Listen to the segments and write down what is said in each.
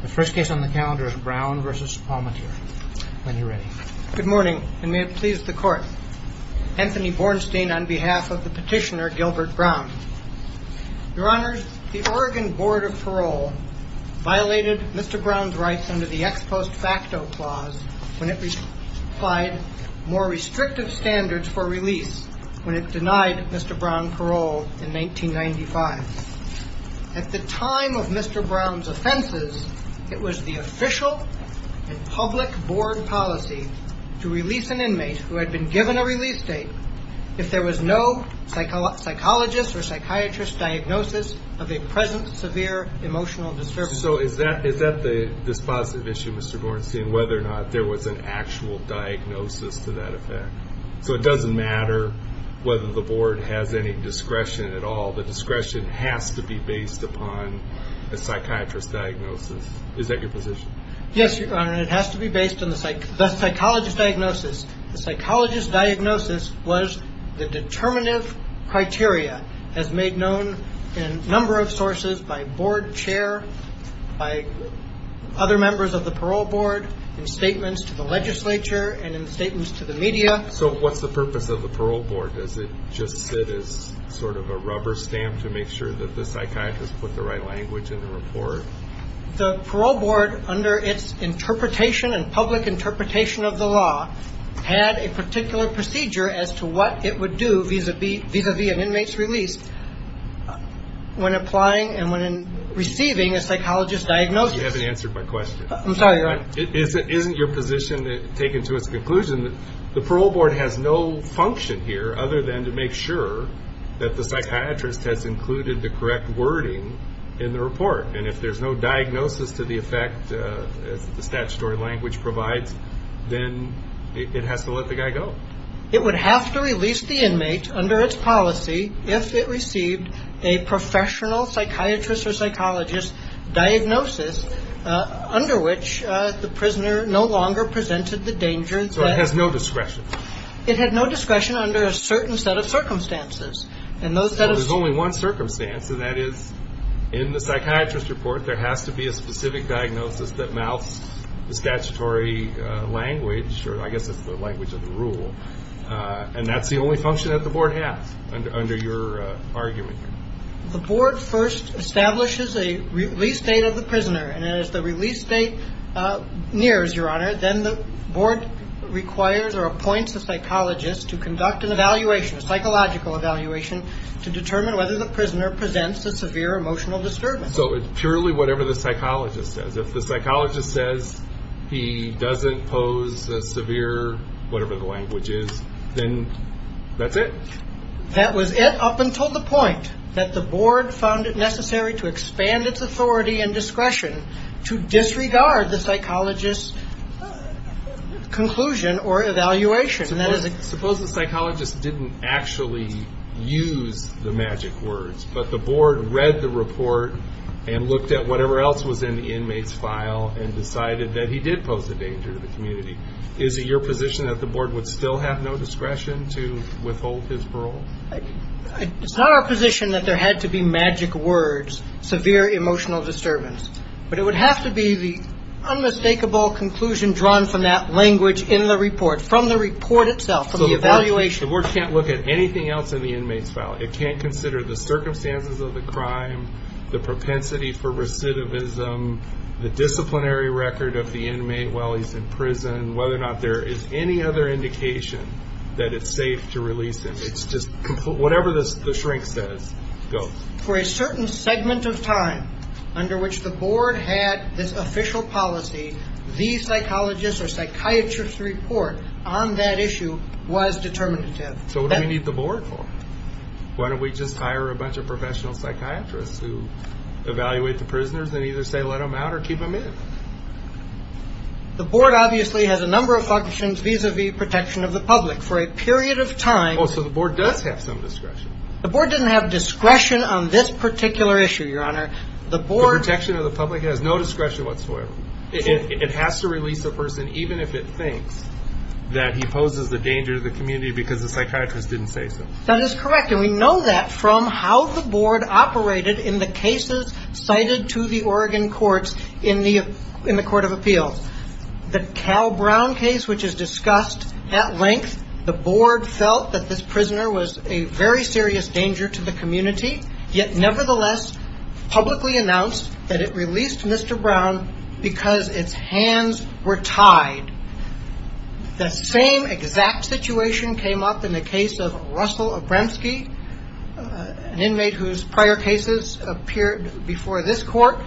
The first case on the calendar is Brown v. Palmateer. When you're ready. Good morning, and may it please the Court. Anthony Bornstein on behalf of the petitioner Gilbert Brown. Your Honors, the Oregon Board of Parole violated Mr. Brown's rights under the Ex Post Facto Clause when it applied more restrictive standards for release when it denied Mr. Brown parole in 1995. At the time of Mr. Brown's offenses, it was the official and public board policy to release an inmate who had been given a release date if there was no psychologist or psychiatrist diagnosis of a present severe emotional disturbance. So is that this positive issue, Mr. Bornstein, whether or not there was an actual diagnosis to that effect? So it doesn't matter whether the board has any discretion at all. The discretion has to be based upon a psychiatrist diagnosis. Is that your position? Yes, Your Honor, and it has to be based on the psychologist diagnosis. The psychologist diagnosis was the determinative criteria as made known in a number of sources by board chair, by other members of the parole board, in statements to the legislature and in statements to the media. So what's the purpose of the parole board? Does it just sit as sort of a rubber stamp to make sure that the psychiatrist put the right language in the report? The parole board, under its interpretation and public interpretation of the law, had a particular procedure as to what it would do vis-a-vis an inmate's release when applying and when receiving a psychologist diagnosis. You haven't answered my question. I'm sorry, Your Honor. It isn't your position taken to its conclusion that the parole board has no function here other than to make sure that the psychiatrist has included the correct wording in the report. And if there's no diagnosis to the effect the statutory language provides, then it has to let the guy go. It would have to release the inmate under its policy if it received a professional psychiatrist or psychologist diagnosis under which the prisoner no longer presented the danger. So it has no discretion. It had no discretion under a certain set of circumstances. There's only one circumstance, and that is in the psychiatrist report there has to be a specific diagnosis that mounts the statutory language, or I guess it's the language of the rule, and that's the only function that the board has under your argument. The board first establishes a release date of the prisoner. And as the release date nears, Your Honor, then the board requires or appoints a psychologist to conduct an evaluation, a psychological evaluation to determine whether the prisoner presents a severe emotional disturbance. So it's purely whatever the psychologist says. If the psychologist says he doesn't pose a severe whatever the language is, then that's it. That was it up until the point that the board found it necessary to expand its authority and discretion to disregard the psychologist's conclusion or evaluation. Suppose the psychologist didn't actually use the magic words, but the board read the report and looked at whatever else was in the inmate's file and decided that he did pose a danger to the community. Is it your position that the board would still have no discretion to withhold his parole? It's not our position that there had to be magic words, severe emotional disturbance, but it would have to be the unmistakable conclusion drawn from that language in the report, from the report itself, from the evaluation. So the board can't look at anything else in the inmate's file. It can't consider the circumstances of the crime, the propensity for recidivism, the disciplinary record of the inmate while he's in prison, whether or not there is any other indication that it's safe to release him. It's just whatever the shrink says goes. For a certain segment of time under which the board had this official policy, the psychologist or psychiatrist's report on that issue was determinative. So what do we need the board for? Why don't we just hire a bunch of professional psychiatrists who evaluate the prisoners and either say let them out or keep them in? The board obviously has a number of functions vis-à-vis protection of the public. For a period of time – Oh, so the board does have some discretion. The board doesn't have discretion on this particular issue, Your Honor. The board – The protection of the public has no discretion whatsoever. It has to release the person even if it thinks that he poses the danger to the community because the psychiatrist didn't say so. That is correct. And we know that from how the board operated in the cases cited to the Oregon courts in the Court of Appeals. The Cal Brown case, which is discussed at length, the board felt that this prisoner was a very serious danger to the community, yet nevertheless publicly announced that it released Mr. Brown because its hands were tied. The same exact situation came up in the case of Russell Obremsky, an inmate whose prior cases appeared before this court,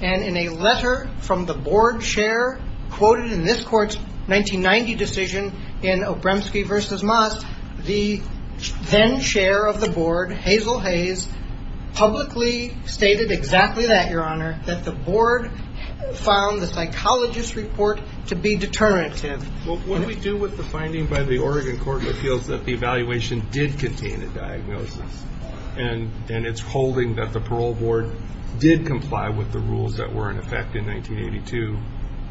and in a letter from the board chair quoted in this court's 1990 decision in Obremsky v. Moss, the then chair of the board, Hazel Hayes, publicly stated exactly that, Your Honor, that the board found the psychologist's report to be determinative. Well, what do we do with the finding by the Oregon Court of Appeals that the evaluation did contain a diagnosis and it's holding that the parole board did comply with the rules that were in effect in 1982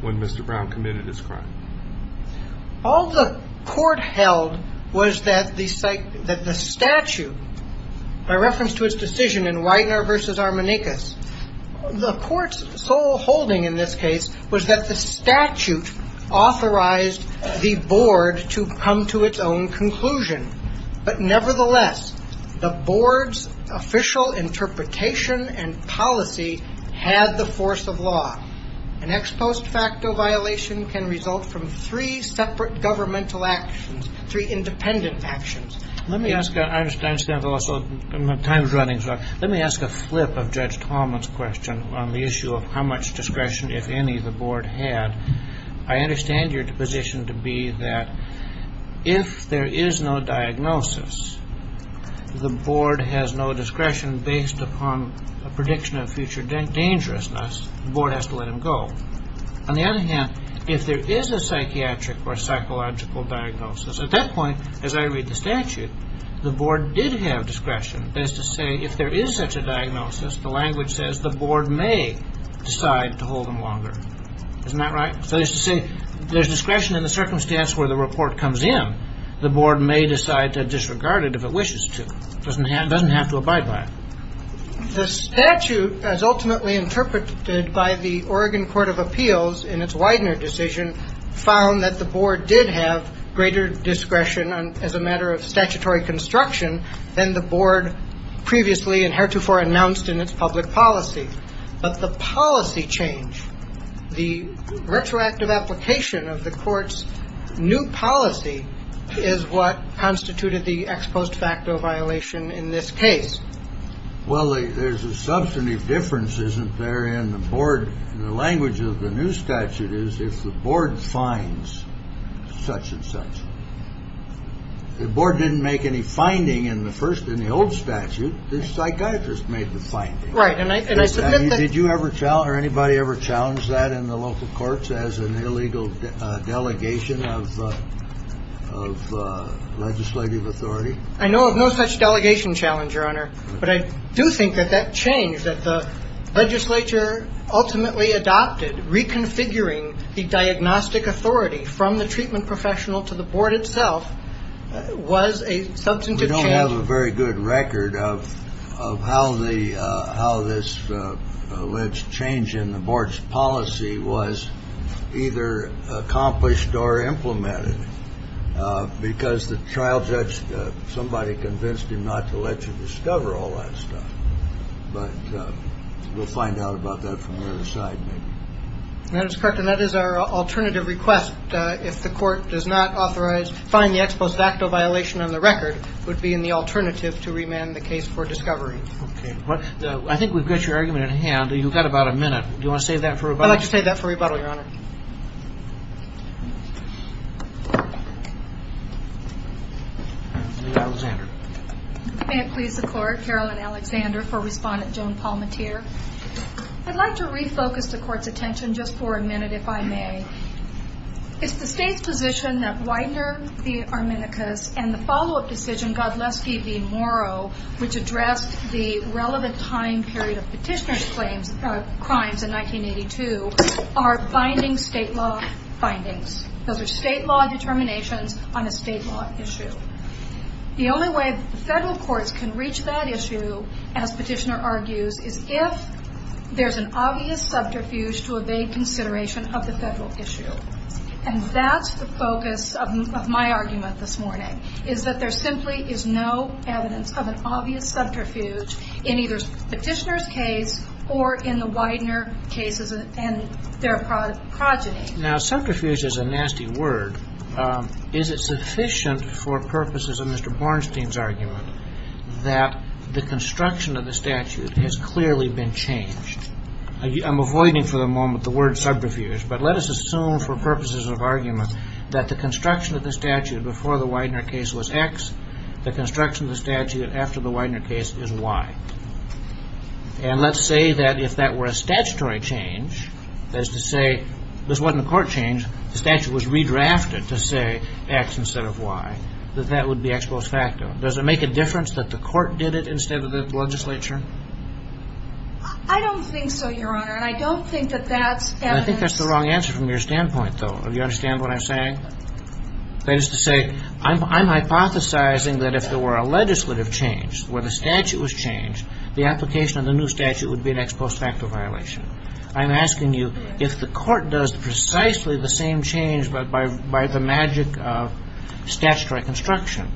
when Mr. Brown committed his crime? All the court held was that the statute, by reference to its decision in Weidner v. Armanekis, the court's sole holding in this case was that the statute authorized the board to come to its own conclusion. But nevertheless, the board's official interpretation and policy had the force of law. An ex post facto violation can result from three separate governmental actions, three independent actions. Let me ask a flip of Judge Tallman's question on the issue of how much discretion, if any, the board had. I understand your position to be that if there is no diagnosis, the board has no discretion based upon a prediction of future dangerousness. The board has to let him go. On the other hand, if there is a psychiatric or psychological diagnosis, at that point, as I read the statute, the board did have discretion as to say if there is such a diagnosis, the language says the board may decide to hold him longer. Isn't that right? So there's discretion in the circumstance where the report comes in. The board may decide to disregard it if it wishes to. It doesn't have to abide by it. The statute, as ultimately interpreted by the Oregon Court of Appeals in its Weidner decision, found that the board did have greater discretion as a matter of statutory construction than the board previously and heretofore announced in its public policy. But the policy change, the retroactive application of the court's new policy, is what constituted the ex post facto violation in this case. Well, there's a substantive difference, isn't there, in the board. The language of the new statute is if the board finds such and such. The board didn't make any finding in the first, in the old statute. The psychiatrist made the finding. Right. And I submit that. Did you ever challenge or anybody ever challenge that in the local courts as an illegal delegation of legislative authority? I know of no such delegation challenge, Your Honor. But I do think that that change that the legislature ultimately adopted, reconfiguring the diagnostic authority from the treatment professional to the board itself, was a substantive change. We don't have a very good record of how the how this alleged change in the board's policy was either accomplished or implemented. Because the child judge, somebody convinced him not to let you discover all that stuff. But we'll find out about that from the other side maybe. Madam Secretary, that is our alternative request. If the court does not authorize, find the ex post facto violation on the record, it would be in the alternative to remand the case for discovery. Okay. I think we've got your argument in hand. You've got about a minute. Do you want to save that for rebuttal? I'd like to refocus the court's attention just for a minute, if I may. It's the state's position that Widener v. Arminicus and the follow-up decision, Godleski v. Morrow, which addressed the relevant time period of petitioner's claims of crimes in 1982, are both ineligible. Those are state law determinations on a state law issue. The only way the federal courts can reach that issue, as petitioner argues, is if there's an obvious subterfuge to evade consideration of the federal issue. And that's the focus of my argument this morning, is that there simply is no evidence of an obvious subterfuge in either petitioner's case or in the Widener cases and their progeny. Now, subterfuge is a nasty word. Is it sufficient for purposes of Mr. Bornstein's argument that the construction of the statute has clearly been changed? I'm avoiding for the moment the word subterfuge, but let us assume for purposes of argument that the construction of the statute before the Widener case was X, the construction of the statute after the Widener case is Y. And let's say that if that were a statutory change, that is to say, this wasn't a court change, the statute was redrafted to say X instead of Y, that that would be ex post facto. Does it make a difference that the court did it instead of the legislature? I don't think so, Your Honor, and I don't think that that's evidence. I think that's the wrong answer from your standpoint, though. Do you understand what I'm saying? That is to say, I'm hypothesizing that if there were a legislative change where the statute was changed, the application of the new statute would be an ex post facto violation. I'm asking you if the court does precisely the same change by the magic of statutory construction,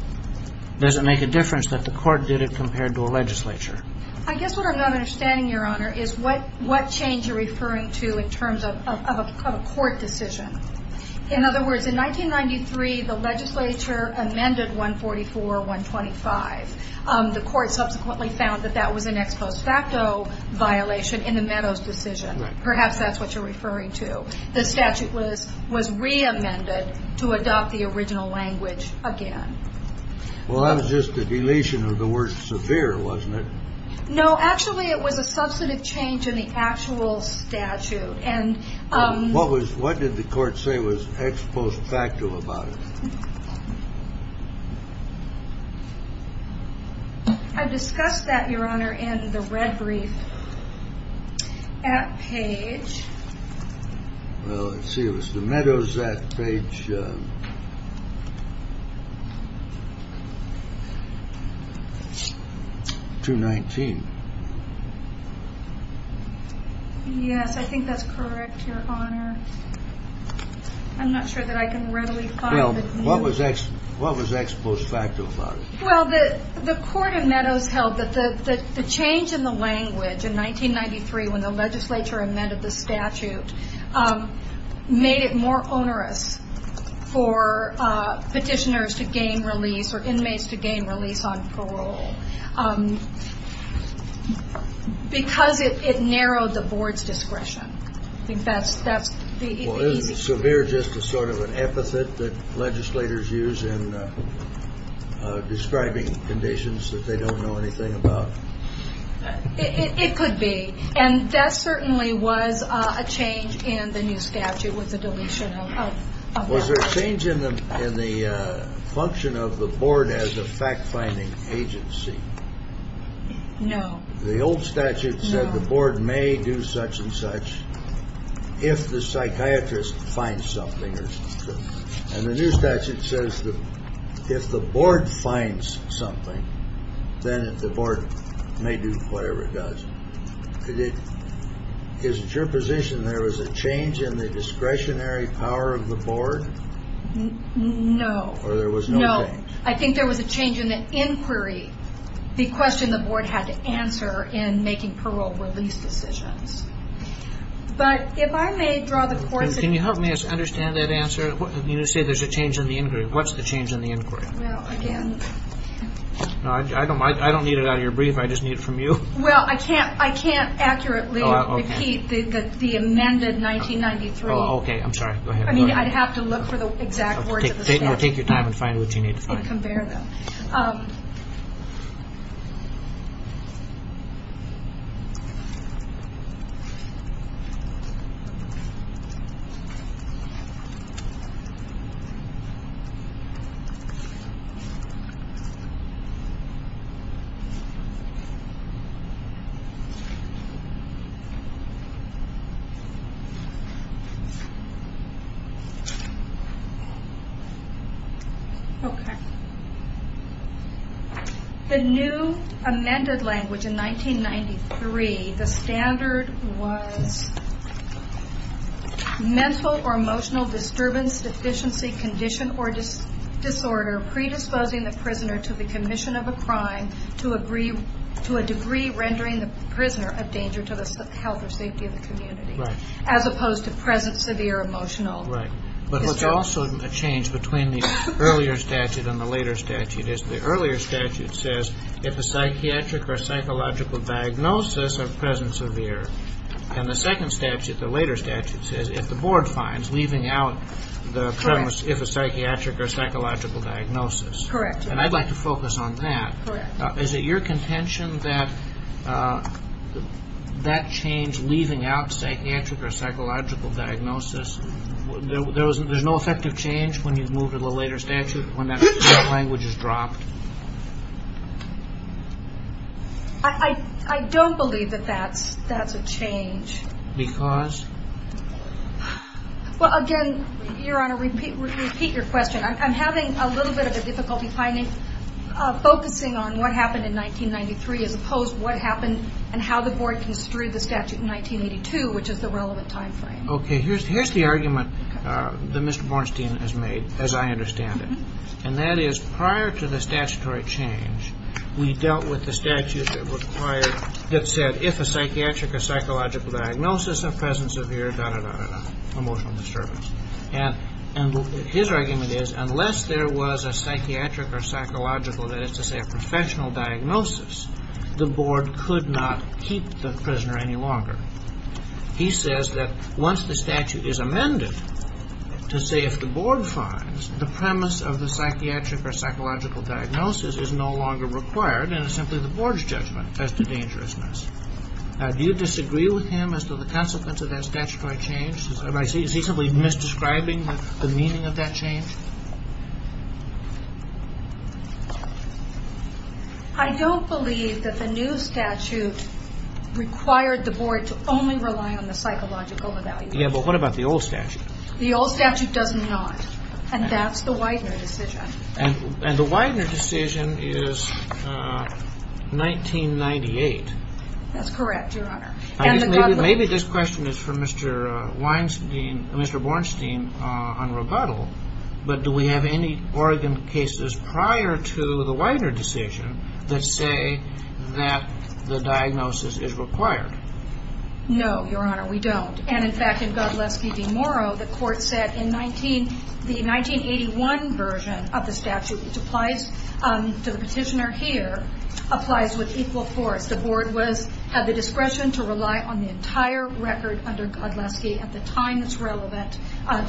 does it make a difference that the court did it compared to a legislature? I guess what I'm not understanding, Your Honor, is what change you're referring to in terms of a court decision. In other words, in 1993, the legislature amended 144.125. The court subsequently found that that was an ex post facto violation in the Meadows decision. Perhaps that's what you're referring to. The statute was re-amended to adopt the original language again. Well, that was just a deletion of the word severe, wasn't it? No, actually, it was a substantive change in the actual statute. What did the court say was ex post facto about it? I discussed that, Your Honor, in the red brief at page. Well, let's see, it was the Meadows at page 219. Yes, I think that's correct, Your Honor. I'm not sure that I can readily find it. Well, what was ex post facto about it? Well, the court in Meadows held that the change in the language in 1993 when the legislature amended the statute made it more onerous for petitioners to gain release or inmates to gain release on parole. Because it narrowed the board's discretion. Well, isn't severe just a sort of an epithet that legislators use in describing conditions that they don't know anything about? It could be. And that certainly was a change in the new statute with the deletion of the word. Was there a change in the function of the board as a fact finding agency? No. The old statute said the board may do such and such if the psychiatrist finds something. And the new statute says that if the board finds something, then the board may do whatever it does. Is it your position there was a change in the discretionary power of the board? No. Or there was no change? No. I think there was a change in the inquiry, the question the board had to answer in making parole release decisions. But if I may draw the court's attention... Can you help me understand that answer? You say there's a change in the inquiry. What's the change in the inquiry? Well, again... I don't need it out of your brief. I just need it from you. Well, I can't accurately repeat the amended 1993. Oh, okay. I'm sorry. Go ahead. I'd have to look for the exact words of the statute. Take your time and find what you need to find. And compare them. Okay. The new amended language in 1993, the standard was... ...condition or disorder predisposing the prisoner to the commission of a crime... ...to a degree rendering the prisoner a danger to the health or safety of the community... Right. ...as opposed to present severe emotional... Right. But what's also a change between the earlier statute and the later statute is the earlier statute says... ...if a psychiatric or psychological diagnosis of present severe... And the second statute, the later statute, says if the board finds leaving out the... Correct. ...if a psychiatric or psychological diagnosis. Correct. And I'd like to focus on that. Correct. Is it your contention that that change leaving out psychiatric or psychological diagnosis... There's no effective change when you've moved to the later statute when that language is dropped? I don't believe that that's a change. Because? Well, again, Your Honor, repeat your question. I'm having a little bit of a difficulty finding, focusing on what happened in 1993 as opposed to what happened... ...and how the board construed the statute in 1982, which is the relevant time frame. Okay. Here's the argument that Mr. Bornstein has made, as I understand it. And that is prior to the statutory change, we dealt with the statute that required, that said... ...if a psychiatric or psychological diagnosis of present severe, da-da-da-da-da, emotional disturbance. And his argument is unless there was a psychiatric or psychological, that is to say a professional diagnosis... ...the board could not keep the prisoner any longer. He says that once the statute is amended, to say if the board finds... ...the premise of the psychiatric or psychological diagnosis is no longer required... ...and it's simply the board's judgment as to dangerousness. Do you disagree with him as to the consequence of that statutory change? Is he simply misdescribing the meaning of that change? I don't believe that the new statute required the board to only rely on the psychological evaluation. Yeah, but what about the old statute? The old statute does not. And that's the Widener decision. And the Widener decision is 1998. That's correct, Your Honor. Maybe this question is for Mr. Bornstein on rebuttal. But do we have any Oregon cases prior to the Widener decision that say that the diagnosis is required? No, Your Honor, we don't. And in fact, in Godleski v. Morrow, the court said in the 1981 version of the statute... ...which applies to the petitioner here, applies with equal force. The board had the discretion to rely on the entire record under Godleski at the time that's relevant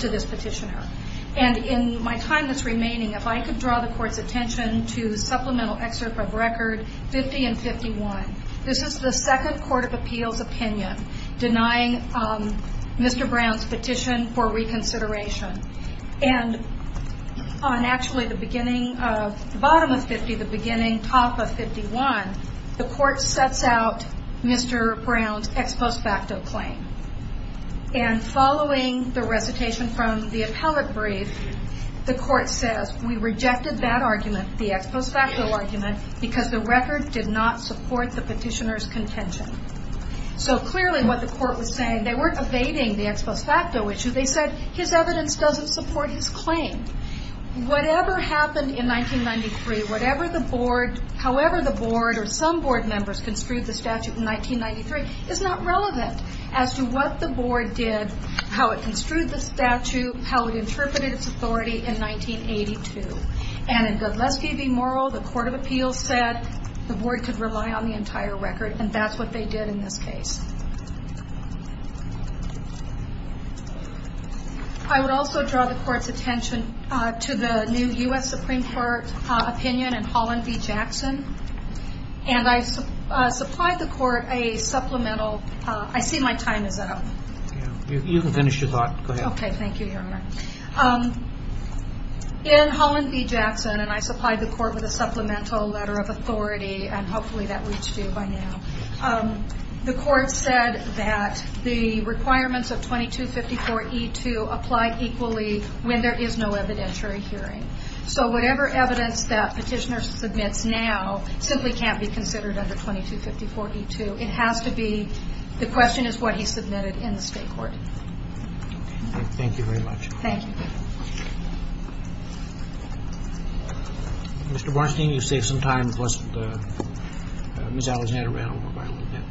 to this petitioner. And in my time that's remaining, if I could draw the court's attention to Supplemental Excerpt of Record 50 and 51. This is the second court of appeals opinion denying Mr. Brown's petition for reconsideration. And on actually the beginning of the bottom of 50, the beginning top of 51, the court sets out Mr. Brown's ex post facto claim. And following the recitation from the appellate brief, the court says, We rejected that argument, the ex post facto argument, because the record did not support the petitioner's contention. So clearly what the court was saying, they weren't evading the ex post facto issue. They said his evidence doesn't support his claim. Whatever happened in 1993, however the board or some board members construed the statute in 1993, is not relevant. As to what the board did, how it construed the statute, how it interpreted its authority in 1982. And in Godleski v. Morrill, the court of appeals said the board could rely on the entire record and that's what they did in this case. I would also draw the court's attention to the new U.S. Supreme Court opinion in Holland v. Jackson. And I supplied the court a supplemental, I see my time is up. You can finish your thought, go ahead. Okay, thank you, your honor. In Holland v. Jackson, and I supplied the court with a supplemental letter of authority and hopefully that reached you by now. The court said that the requirements of 2254E2 apply equally when there is no evidentiary hearing. So whatever evidence that petitioner submits now simply can't be considered under 2254E2. It has to be, the question is what he submitted in the state court. Okay, thank you very much. Thank you. Mr. Bernstein, you saved some time, plus Ms. Alexander ran over by a little bit.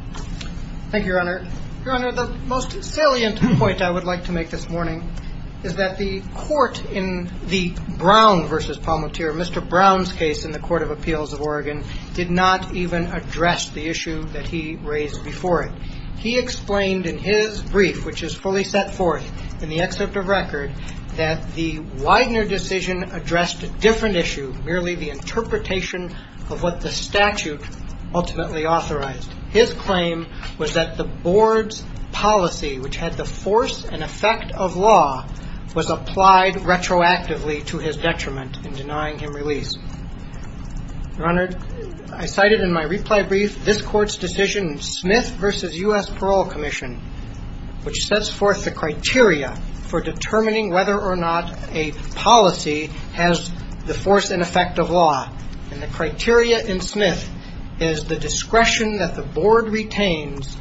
Thank you, your honor. Your honor, the most salient point I would like to make this morning is that the court in the Brown v. Palmatier, Mr. Brown's case in the Court of Appeals of Oregon did not even address the issue that he raised before it. He explained in his brief, which is fully set forth in the excerpt of record, that the Widener decision addressed a different issue, merely the interpretation of what the statute ultimately authorized. His claim was that the board's policy, which had the force and effect of law, was applied retroactively to his detriment in denying him release. Your honor, I cited in my reply brief this court's decision, Smith v. U.S. Parole Commission, which sets forth the criteria for determining whether or not a policy has the force and effect of law. And the criteria in Smith is the discretion that the board retains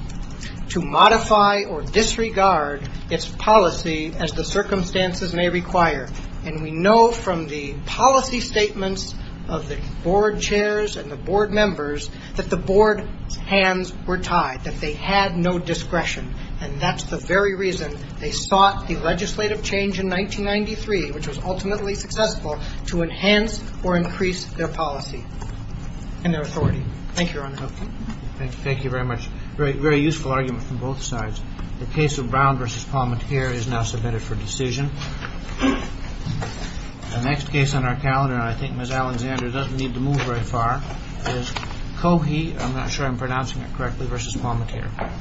to modify or disregard its policy as the circumstances may require. And we know from the policy statements of the board chairs and the board members that the board's hands were tied, that they had no discretion. And that's the very reason they sought the legislative change in 1993, which was ultimately successful, to enhance or increase their policy and their authority. Thank you, Your Honor. Thank you. Thank you very much. Very useful argument from both sides. The case of Brown v. Palmettere is now submitted for decision. The next case on our calendar, and I think Ms. Alexander doesn't need to move very far, is Cohey. I'm not sure I'm pronouncing it correctly, v. Brown v. Brown v.